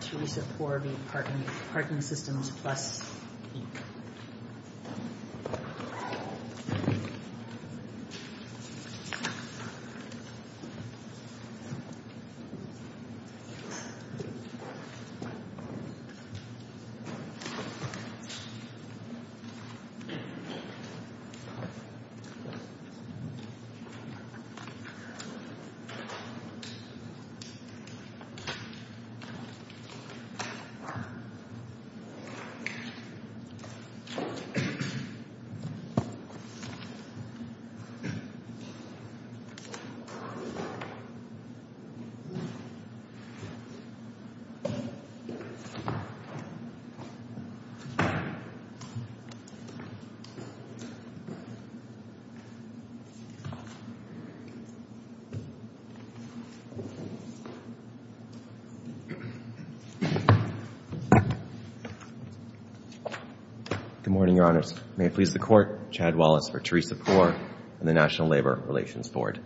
Teresa Porby, Parking Systems Plus, Inc. Teresa Porby, Parking Systems Plus, Inc. Good morning, Your Honors. May it please the Court, Chad Wallace for Teresa Porby and the National Labor Relations Board.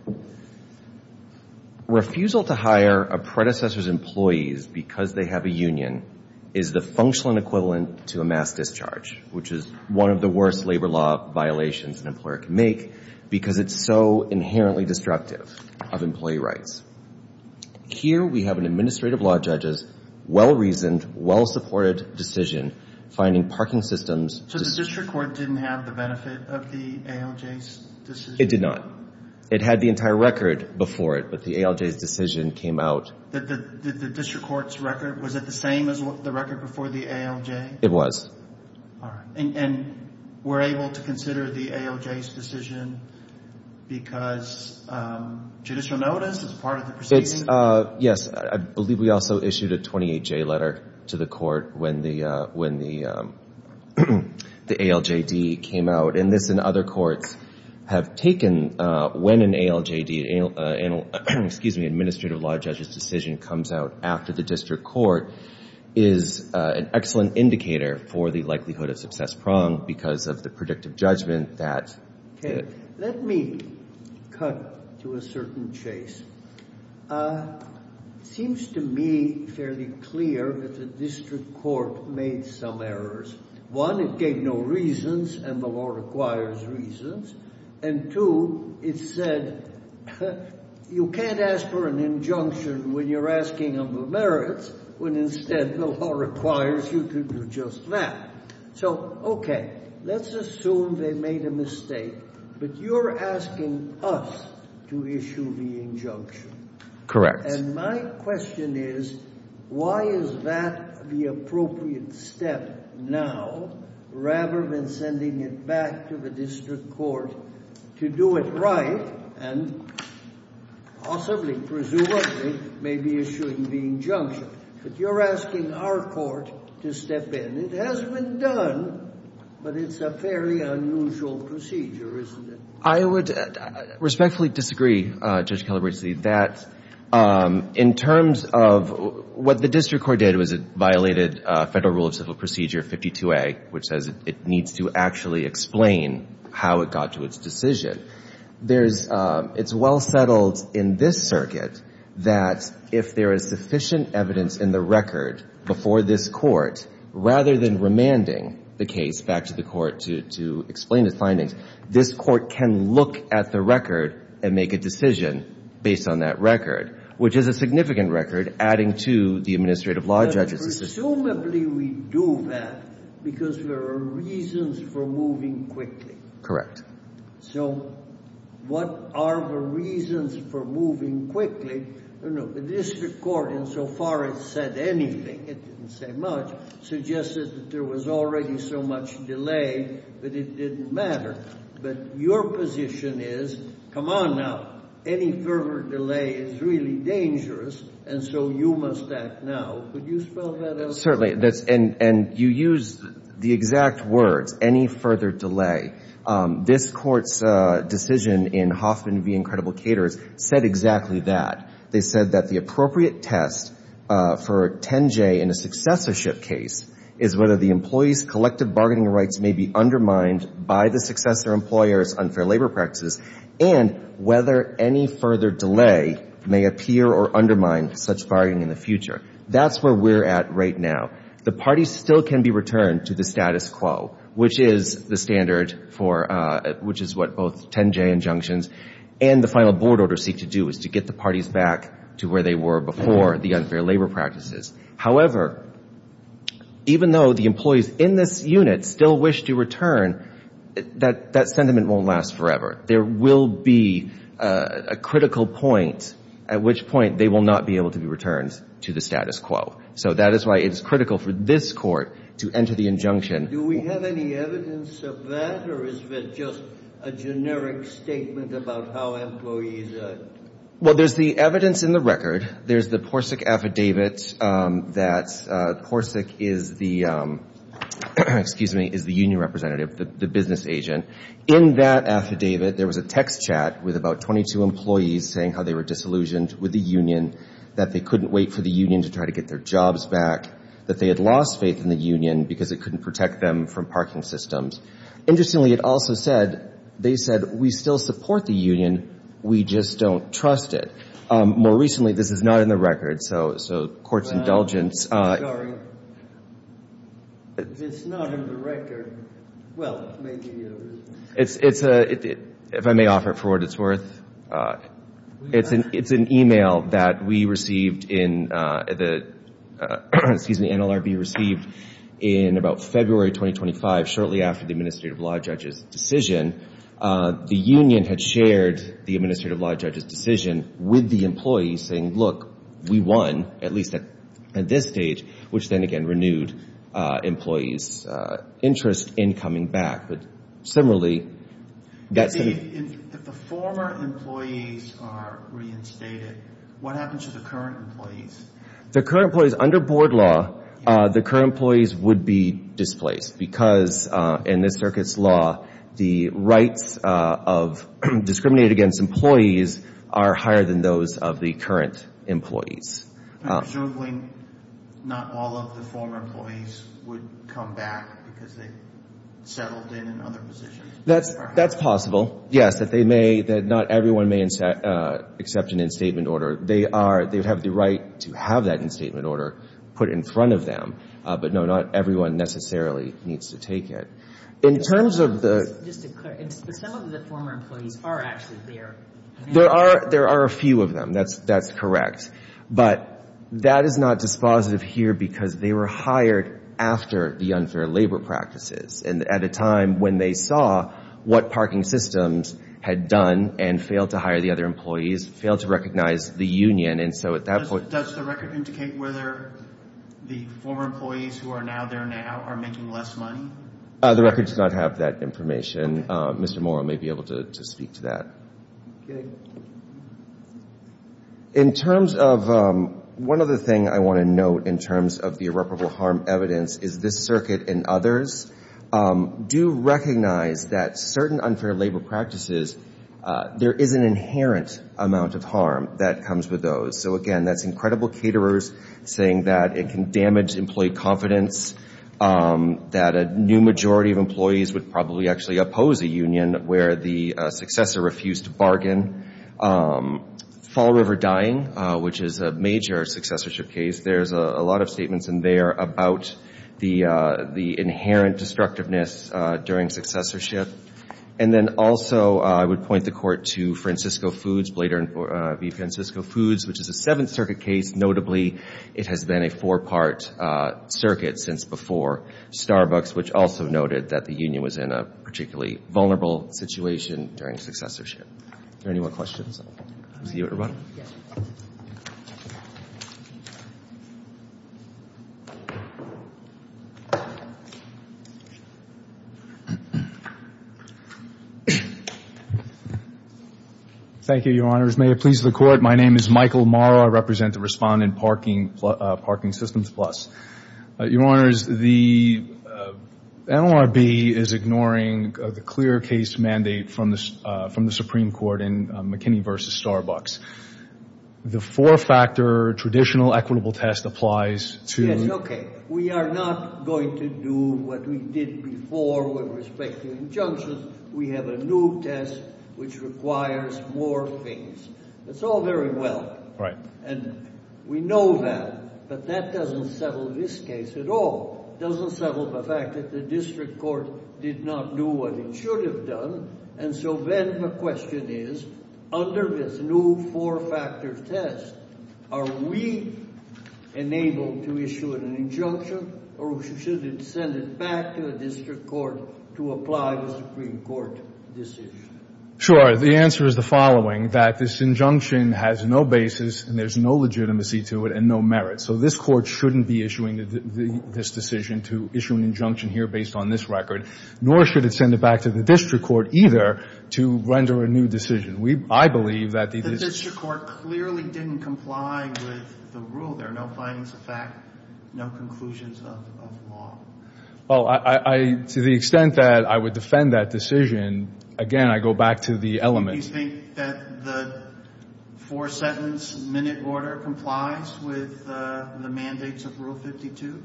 Refusal to hire a predecessor's employees because they have a union is the functional and equivalent to a mass discharge, which is one of the worst labor law violations an employer can make because it's so inherently destructive of employee rights. Here we have an administrative law judge's well-reasoned, well-supported decision finding parking systems. So the district court didn't have the benefit of the ALJ's decision? It did not. It had the entire record before it, but the ALJ's decision came out. The district court's record, was it the same as the record before the ALJ? It was. And we're able to consider the ALJ's decision because judicial notice is part of the proceeding? Yes. I believe we also issued a 28-J letter to the court when the ALJD came out. And this and other courts have taken when an ALJD, excuse me, administrative law judge's decision comes out after the district court is an excellent indicator for the district court. And we're able to consider the ALJD's decision because judicial notice is part of the proceeding? Yes. I believe we also issued a 28-J letter to the court when the ALJD came out. And this and other courts have taken when an ALJD, executive notice is an excellent indicator for the district court. And we're able to consider the ALJD's decision because judicial notice is part of the proceeding? Yes. I believe we also issued a 28-J letter to the court when the ALJD came out. Yes. And I believe we also issued a 28-J letter to the court when the ALJD came out. And we're able to consider the ALJD's decision because judicial notice is part of the proceeding? Yes. I believe we also issued a 28-J letter to the court when the ALJD came out. And it has been done, but it's a fairly unusual procedure, isn't it? I would respectfully disagree, Judge Calabresi, that in terms of what the district court did was it violated Federal Rule of Civil Procedure 52A, which says it needs to actually explain how it got to its decision. There's – it's well settled in this circuit that if there is sufficient evidence in the record before this court, rather than remanding the case back to the court to explain its findings, this court can look at the record and make a decision based on that record, which is a significant record adding to the administrative law judges' decision. But presumably we do that because there are reasons for moving quickly. Correct. So what are the reasons for moving quickly? The district court insofar as said anything – it didn't say much – suggested that there was already so much delay that it didn't matter. But your position is, come on now, any further delay is really dangerous, and so you must act now. Could you spell that out? Certainly. And you used the exact words, any further delay. This court's decision in Hoffman v. Incredible Caterers said exactly that. They said that the appropriate test for 10J in a successorship case is whether the employee's collective bargaining rights may be undermined by the successor employer's unfair labor practices and whether any further delay may appear or undermine such bargaining in the future. That's where we're at right now. The parties still can be returned to the status quo, which is the standard for – which is what both 10J injunctions and the final board order seek to do, is to get the parties back to where they were before the unfair labor practices. However, even though the employees in this unit still wish to return, that sentiment won't last forever. There will be a critical point at which point they will not be able to be returned to the status quo. So that is why it's critical for this court to enter the injunction. Do we have any evidence of that? Or is it just a generic statement about how employees are – Well, there's the evidence in the record. There's the PORSEC affidavit that PORSEC is the – excuse me – is the union representative, the business agent. In that affidavit, there was a text chat with about 22 employees saying how they were disillusioned with the union, that they couldn't wait for the union to try to get their jobs back, that they had lost faith in the union because it couldn't protect them from parking systems. Interestingly, it also said – they said, we still support the union, we just don't trust it. More recently, this is not in the record, so court's indulgence. I'm sorry. If it's not in the record, well, maybe it is. It's a – if I may offer it for what it's worth. It's an email that we received in the – excuse me, NLRB received in about February 2025, shortly after the Administrative Law Judge's decision. The union had shared the Administrative Law Judge's decision with the employees saying, look, we won, at least at this stage, which then again renewed employees' interest in coming back. But similarly – If the former employees are reinstated, what happens to the current employees? The current employees, under board law, the current employees would be displaced because in this circuit's law, the rights of discriminated against employees are higher than those of the current employees. Presumably, not all of the former employees would come back because they settled in other positions. That's possible, yes, that they may – that not everyone may accept an instatement order. They are – they have the right to have that instatement order put in front of them. But no, not everyone necessarily needs to take it. In terms of the – Just to clarify, some of the former employees are actually there. There are a few of them. That's correct. But that is not dispositive here because they were hired after the unfair labor practices. And at a time when they saw what parking systems had done and failed to hire the other employees, failed to recognize the union. And so at that point – Does the record indicate whether the former employees who are now there now are making less money? The record does not have that information. Mr. Morrow may be able to speak to that. Okay. In terms of – one other thing I want to note in terms of the irreparable harm evidence is this circuit and others do recognize that certain unfair labor practices, there is an inherent amount of harm that comes with those. So, again, that's incredible caterers saying that it can damage employee confidence, that a new majority of employees would probably actually oppose a union where the successor refused to bargain. Fall River Dying, which is a major successorship case, there's a lot of talk about the inherent destructiveness during successorship. And then also I would point the court to Francisco Foods, Blader v. Francisco Foods, which is a Seventh Circuit case. Notably, it has been a four-part circuit since before Starbucks, which also noted that the union was in a particularly vulnerable situation during successorship. Are there any more questions? Thank you, Your Honors. May it please the Court. My name is Michael Morrow. I represent the Respondent Parking Systems Plus. Your Honors, the NLRB is ignoring the clear case mandate from the Supreme Court in McKinney v. Starbucks. The four-factor traditional equitable test applies to? Yes, okay. We are not going to do what we did before with respect to injunctions. We have a new test which requires more things. It's all very well. Right. And we know that, but that doesn't settle this case at all. It doesn't settle the fact that the district court did not do what it should have done. And so then the question is, under this new four-factor test, are we enabled to issue an injunction, or should it send it back to a district court to apply the Supreme Court decision? Sure. The answer is the following, that this injunction has no basis, and there's no legitimacy to it and no merit. So this court shouldn't be issuing this decision to issue an injunction here based on this record, nor should it send it back to the district court either to render a new decision. I believe that the district court clearly didn't comply with the rule. There are no findings of fact, no conclusions of law. Well, to the extent that I would defend that decision, again, I go back to the element. Do you think that the four-sentence minute order complies with the mandates of Rule 52?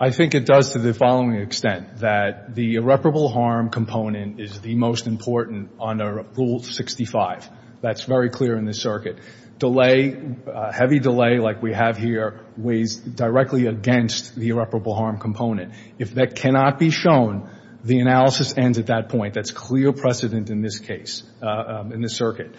I think it does to the following extent, that the irreparable harm component is the most important under Rule 65. That's very clear in this circuit. Delay, heavy delay like we have here, weighs directly against the irreparable harm component. If that cannot be shown, the analysis ends at that point. That's clear precedent in this case, in this circuit.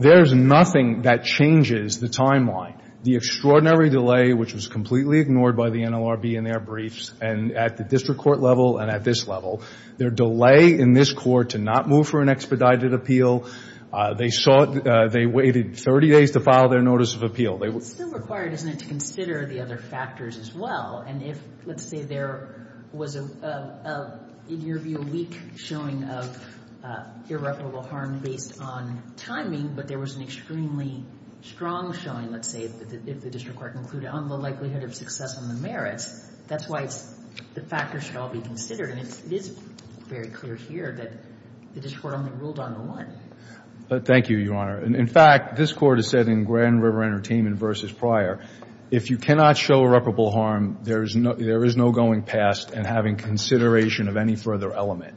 There's nothing that changes the timeline. The extraordinary delay, which was completely ignored by the NLRB in their briefs, and at the district court level and at this level, their delay in this court to not move for an expedited appeal, they waited 30 days to file their notice of appeal. It's still required, isn't it, to consider the other factors as well. And if, let's say, there was, in your view, a weak showing of irreparable harm based on timing, but there was an extremely strong showing, let's say, if the district court concluded on the likelihood of success on the merits, that's why the factors should all be considered. And it is very clear here that the district court only ruled on the one. Thank you, Your Honor. In fact, this Court has said in Grand River Entertainment v. Prior, if you cannot show irreparable harm, there is no going past and having consideration of any further element.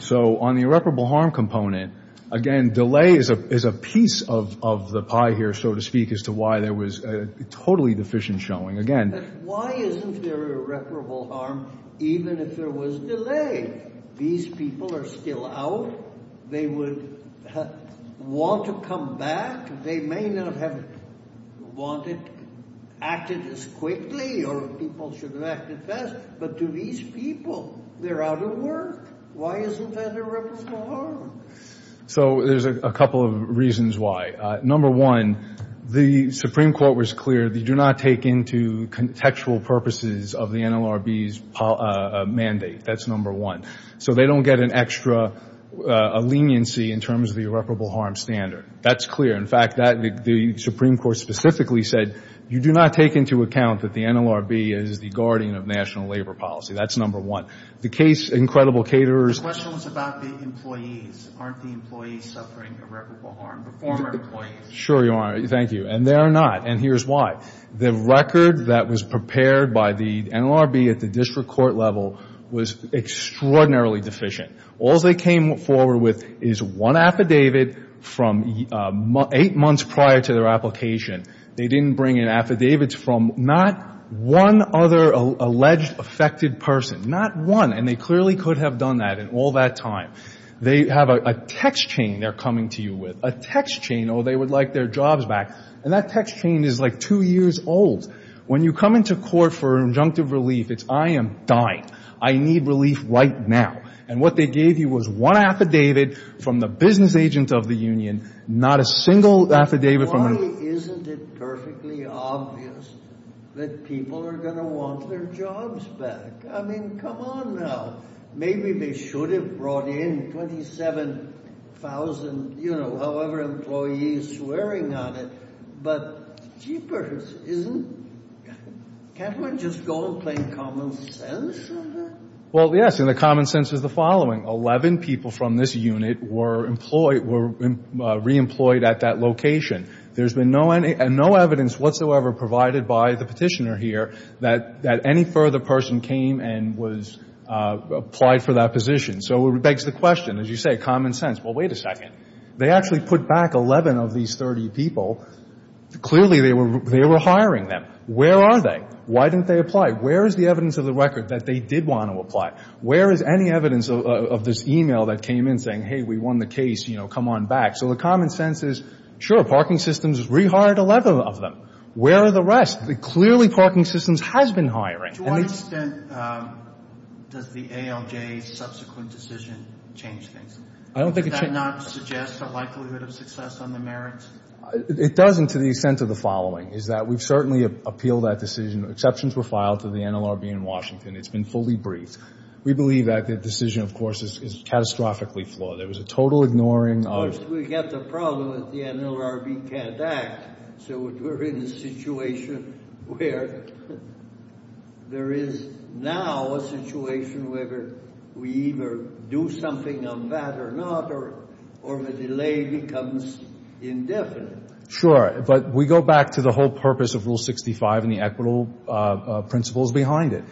So on the irreparable harm component, again, delay is a piece of the pie here, so to speak, as to why there was a totally deficient showing. Again, why isn't there irreparable harm even if there was delay? These people are still out. They would want to come back. They may not have wanted to act as quickly, or people should have acted fast. But to these people, they're out of work. Why isn't there irreparable harm? So there's a couple of reasons why. Number one, the Supreme Court was clear. They do not take into contextual purposes of the NLRB's mandate. That's number one. So they don't get an extra leniency in terms of the irreparable harm standard. That's clear. In fact, the Supreme Court specifically said, you do not take into account that the NLRB is the guardian of national labor policy. That's number one. The case, incredible caterers. The question was about the employees. Aren't the employees suffering irreparable harm, the former employees? Sure you are. Thank you. And they are not, and here's why. The record that was prepared by the NLRB at the district court level was extraordinarily deficient. All they came forward with is one affidavit from eight months prior to their application. They didn't bring in affidavits from not one other alleged affected person, not one, and they clearly could have done that in all that time. They have a text chain they're coming to you with, a text chain, oh, they would like their jobs back, and that text chain is like two years old. When you come into court for injunctive relief, it's I am dying. I need relief right now. And what they gave you was one affidavit from the business agent of the union, not a single affidavit from the union. Isn't it perfectly obvious that people are going to want their jobs back? I mean, come on now. Maybe they should have brought in 27,000, you know, however employees swearing on it, but jeepers. Can't one just go and play common sense on that? Well, yes, and the common sense is the following. Eleven people from this unit were reemployed at that location. There's been no evidence whatsoever provided by the petitioner here that any further person came and was applied for that position. So it begs the question, as you say, common sense. Well, wait a second. They actually put back 11 of these 30 people. Clearly they were hiring them. Where are they? Why didn't they apply? Where is the evidence of the record that they did want to apply? Where is any evidence of this e-mail that came in saying, hey, we won the case, you know, come on back? So the common sense is, sure, parking systems rehired 11 of them. Where are the rest? Clearly parking systems has been hiring. To what extent does the ALJ's subsequent decision change things? Does that not suggest a likelihood of success on the merits? It doesn't to the extent of the following, is that we've certainly appealed that decision. Exceptions were filed to the NLRB in Washington. It's been fully briefed. We believe that the decision, of course, is catastrophically flawed. Of course, we've got the problem that the NLRB can't act. So we're in a situation where there is now a situation where we either do something on that or not, or the delay becomes indefinite. Sure. But we go back to the whole purpose of Rule 65 and the equitable principles behind it.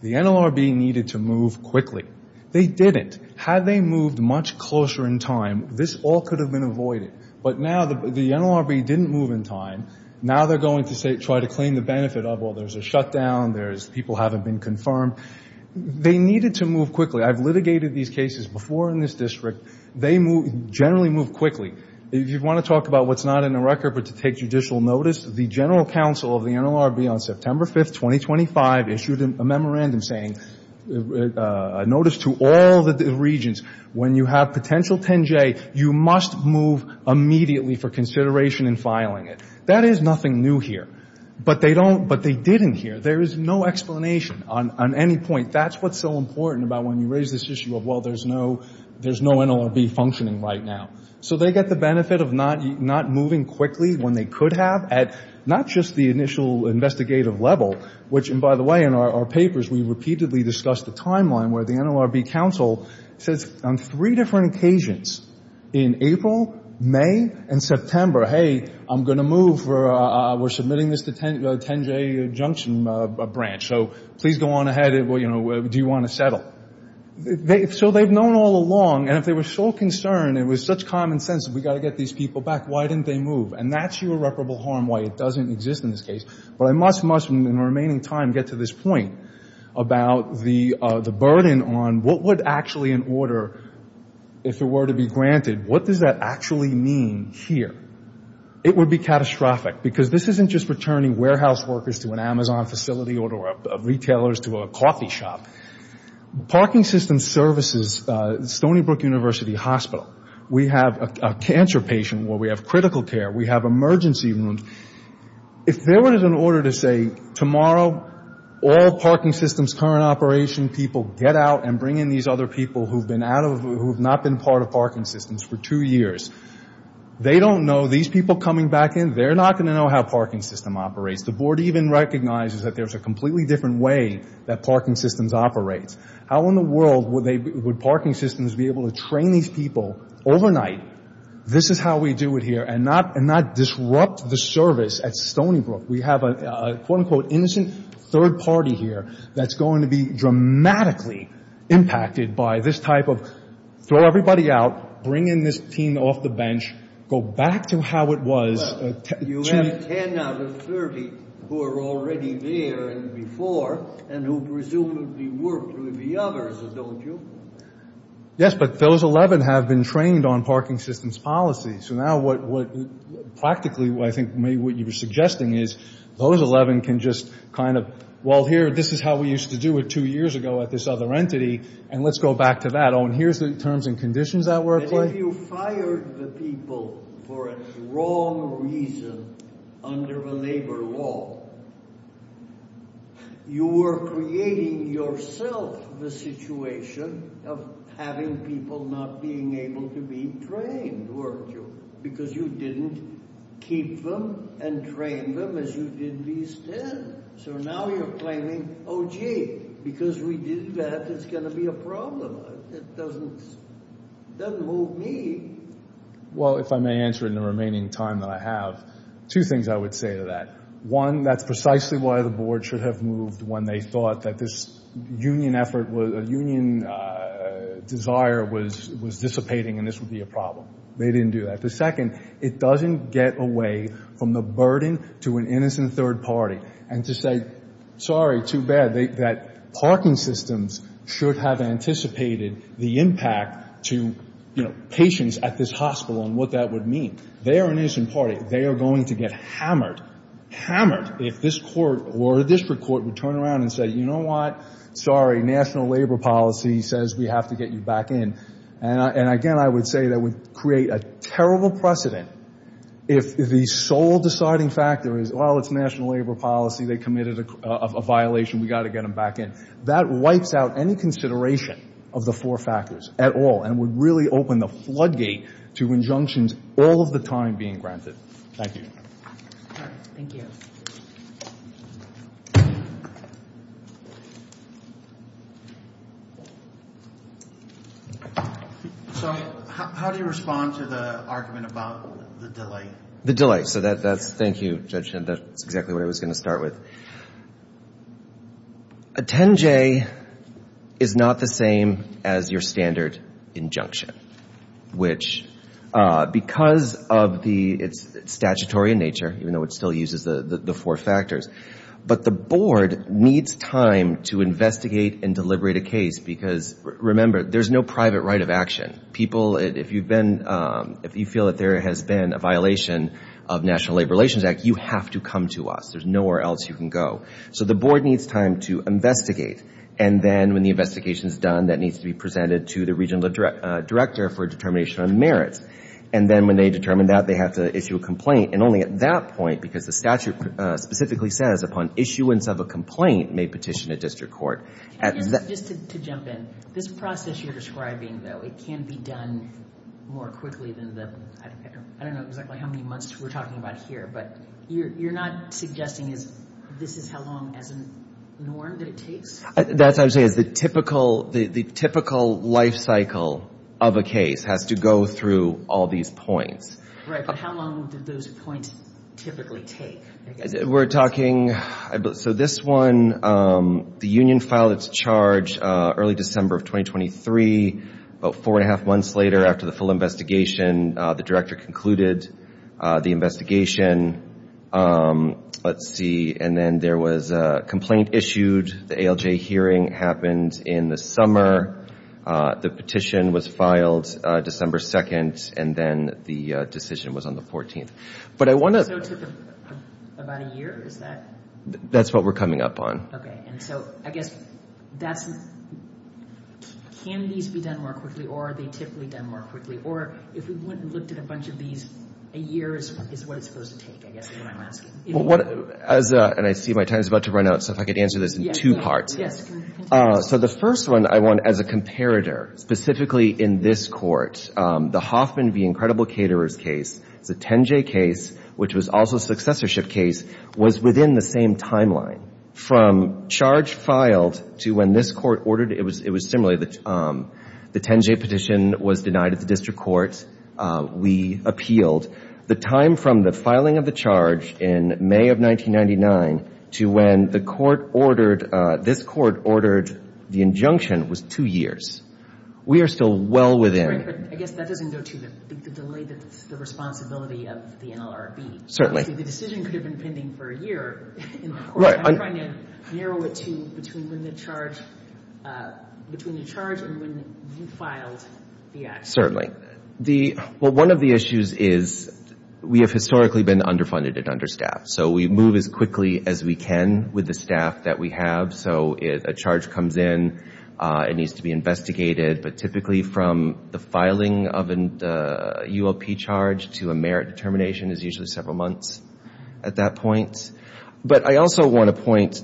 The NLRB needed to move quickly. They didn't. Had they moved much closer in time, this all could have been avoided. But now the NLRB didn't move in time. Now they're going to try to claim the benefit of, well, there's a shutdown, people haven't been confirmed. They needed to move quickly. I've litigated these cases before in this district. They generally move quickly. If you want to talk about what's not in the record but to take judicial notice, the general counsel of the NLRB on September 5th, 2025, issued a memorandum saying, notice to all the regents, when you have potential 10J, you must move immediately for consideration in filing it. That is nothing new here. But they didn't here. There is no explanation on any point. That's what's so important about when you raise this issue of, well, there's no NLRB functioning right now. So they get the benefit of not moving quickly when they could have at not just the initial investigative level, which, and by the way, in our papers we repeatedly discuss the timeline where the NLRB counsel says, on three different occasions, in April, May, and September, hey, I'm going to move for, we're submitting this to the 10J junction branch, so please go on ahead. Do you want to settle? So they've known all along, and if they were so concerned, it was such common sense, we've got to get these people back, why didn't they move? And that's your irreparable harm why it doesn't exist in this case. But I must, in the remaining time, get to this point about the burden on what would actually in order, if it were to be granted, what does that actually mean here? It would be catastrophic because this isn't just returning warehouse workers to an Amazon facility or retailers to a coffee shop. Parking system services, Stony Brook University Hospital, we have a cancer patient where we have critical care, we have emergency rooms. If there was an order to say, tomorrow, all parking systems current operation people get out and bring in these other people who have not been part of parking systems for two years, they don't know, these people coming back in, they're not going to know how a parking system operates. The board even recognizes that there's a completely different way that parking systems operate. How in the world would parking systems be able to train these people overnight, this is how we do it here, and not disrupt the service at Stony Brook. We have a quote-unquote innocent third party here that's going to be dramatically impacted by this type of throw everybody out, bring in this team off the bench, go back to how it was. You have 10 out of 30 who are already there and before and who presumably worked with the others, don't you? Yes, but those 11 have been trained on parking systems policy. So now what practically I think maybe what you're suggesting is those 11 can just kind of, well, here, this is how we used to do it two years ago at this other entity, and let's go back to that. Oh, and here's the terms and conditions that work like. If you fired the people for a wrong reason under a labor law, you were creating yourself the situation of having people not being able to be trained, weren't you? Because you didn't keep them and train them as you did these 10. So now you're claiming, oh gee, because we did that, it's going to be a problem. It doesn't move me. Well, if I may answer in the remaining time that I have, two things I would say to that. One, that's precisely why the board should have moved when they thought that this union effort, a union desire was dissipating and this would be a problem. They didn't do that. The second, it doesn't get away from the burden to an innocent third party and to say, sorry, too bad, that parking systems should have anticipated the impact to, you know, patients at this hospital and what that would mean. They're an innocent party. They are going to get hammered, hammered if this court or a district court would turn around and say, you know what, sorry, national labor policy says we have to get you back in. And again, I would say that would create a terrible precedent if the sole deciding factor is, well, it's national labor policy, they committed a violation, we've got to get them back in. That wipes out any consideration of the four factors at all and would really open the floodgate to injunctions all of the time being granted. Thank you. All right. Thank you. So how do you respond to the argument about the delay? The delay. So that's, thank you, Judge, that's exactly what I was going to start with. A 10-J is not the same as your standard injunction, which because of the statutory nature, even though it still uses the four factors, but the board needs time to investigate and deliberate a case because, remember, there's no private right of action. If you feel that there has been a violation of National Labor Relations Act, you have to come to us. There's nowhere else you can go. So the board needs time to investigate. And then when the investigation is done, that needs to be presented to the regional director for determination of merits. And then when they determine that, they have to issue a complaint. And only at that point, because the statute specifically says upon issuance of a complaint, may petition a district court. Just to jump in, this process you're describing, though, it can be done more quickly than the, I don't know exactly how many months we're talking about here, but you're not suggesting this is how long as a norm that it takes? That's actually the typical life cycle of a case has to go through all these points. Right, but how long do those points typically take? We're talking, so this one, the union filed its charge early December of 2023. About four and a half months later, after the full investigation, the director concluded the investigation. Let's see, and then there was a complaint issued. The ALJ hearing happened in the summer. The petition was filed December 2nd, and then the decision was on the 14th. So it took about a year, is that? That's what we're coming up on. Okay, and so I guess that's, can these be done more quickly, or are they typically done more quickly? Or if we went and looked at a bunch of these, a year is what it's supposed to take, I guess is what I'm asking. And I see my time is about to run out, so if I could answer this in two parts. So the first one I want, as a comparator, specifically in this court, the Hoffman v. Incredible Caterers case is a 10-J case, which was also a successorship case, was within the same timeline. From charge filed to when this court ordered, it was similar. The 10-J petition was denied at the district court. We appealed. The time from the filing of the charge in May of 1999 to when this court ordered the injunction was two years. We are still well within. Right, but I guess that doesn't go to the delay, the responsibility of the NLRB. Certainly. The decision could have been pending for a year. Right. I'm trying to narrow it to between when the charge, between the charge and when you filed the action. Certainly. Well, one of the issues is we have historically been underfunded and understaffed, so we move as quickly as we can with the staff that we have. So a charge comes in. It needs to be investigated. But typically from the filing of a UOP charge to a merit determination is usually several months at that point. But I also want to point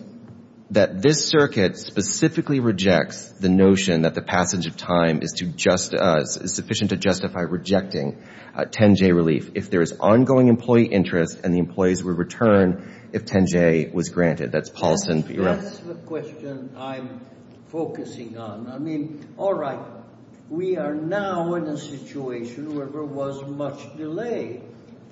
that this circuit specifically rejects the notion that the passage of time is sufficient to justify rejecting 10-J relief if there is ongoing employee interest and the employees will return if 10-J was granted. That's policy. That's the question I'm focusing on. I mean, all right, we are now in a situation where there was much delay.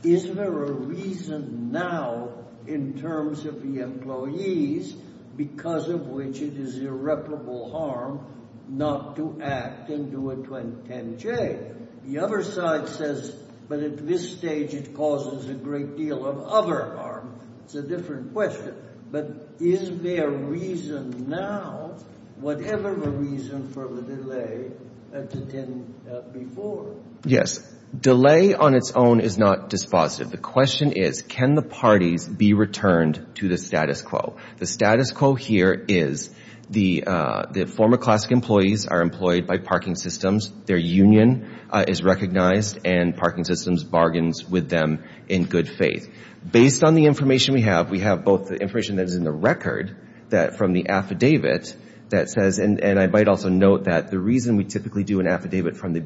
Is there a reason now in terms of the employees because of which it is irreparable harm not to act and do a 10-J? The other side says, but at this stage it causes a great deal of other harm. It's a different question. But is there a reason now, whatever the reason for the delay to 10 before? Yes. Delay on its own is not dispositive. The question is can the parties be returned to the status quo? The status quo here is the former classic employees are employed by parking systems, their union is recognized, and parking systems bargains with them in good faith. Based on the information we have, we have both the information that is in the record from the affidavit that says, and I might also note that the reason we typically do an affidavit from the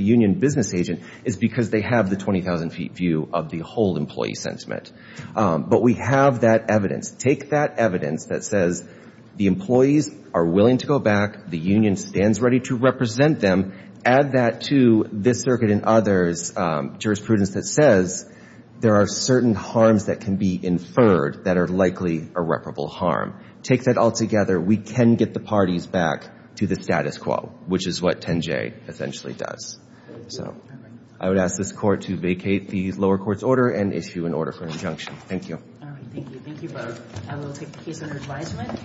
union business agent is because they have the 20,000-feet view of the whole employee sentiment. But we have that evidence. Take that evidence that says the employees are willing to go back, the union stands ready to represent them. Add that to this circuit and others' jurisprudence that says there are certain harms that can be inferred that are likely irreparable harm. Take that all together, we can get the parties back to the status quo, which is what 10-J essentially does. So I would ask this court to vacate the lower court's order and issue an order for injunction. Thank you. All right. Thank you. Thank you both. I will take the case under advisement.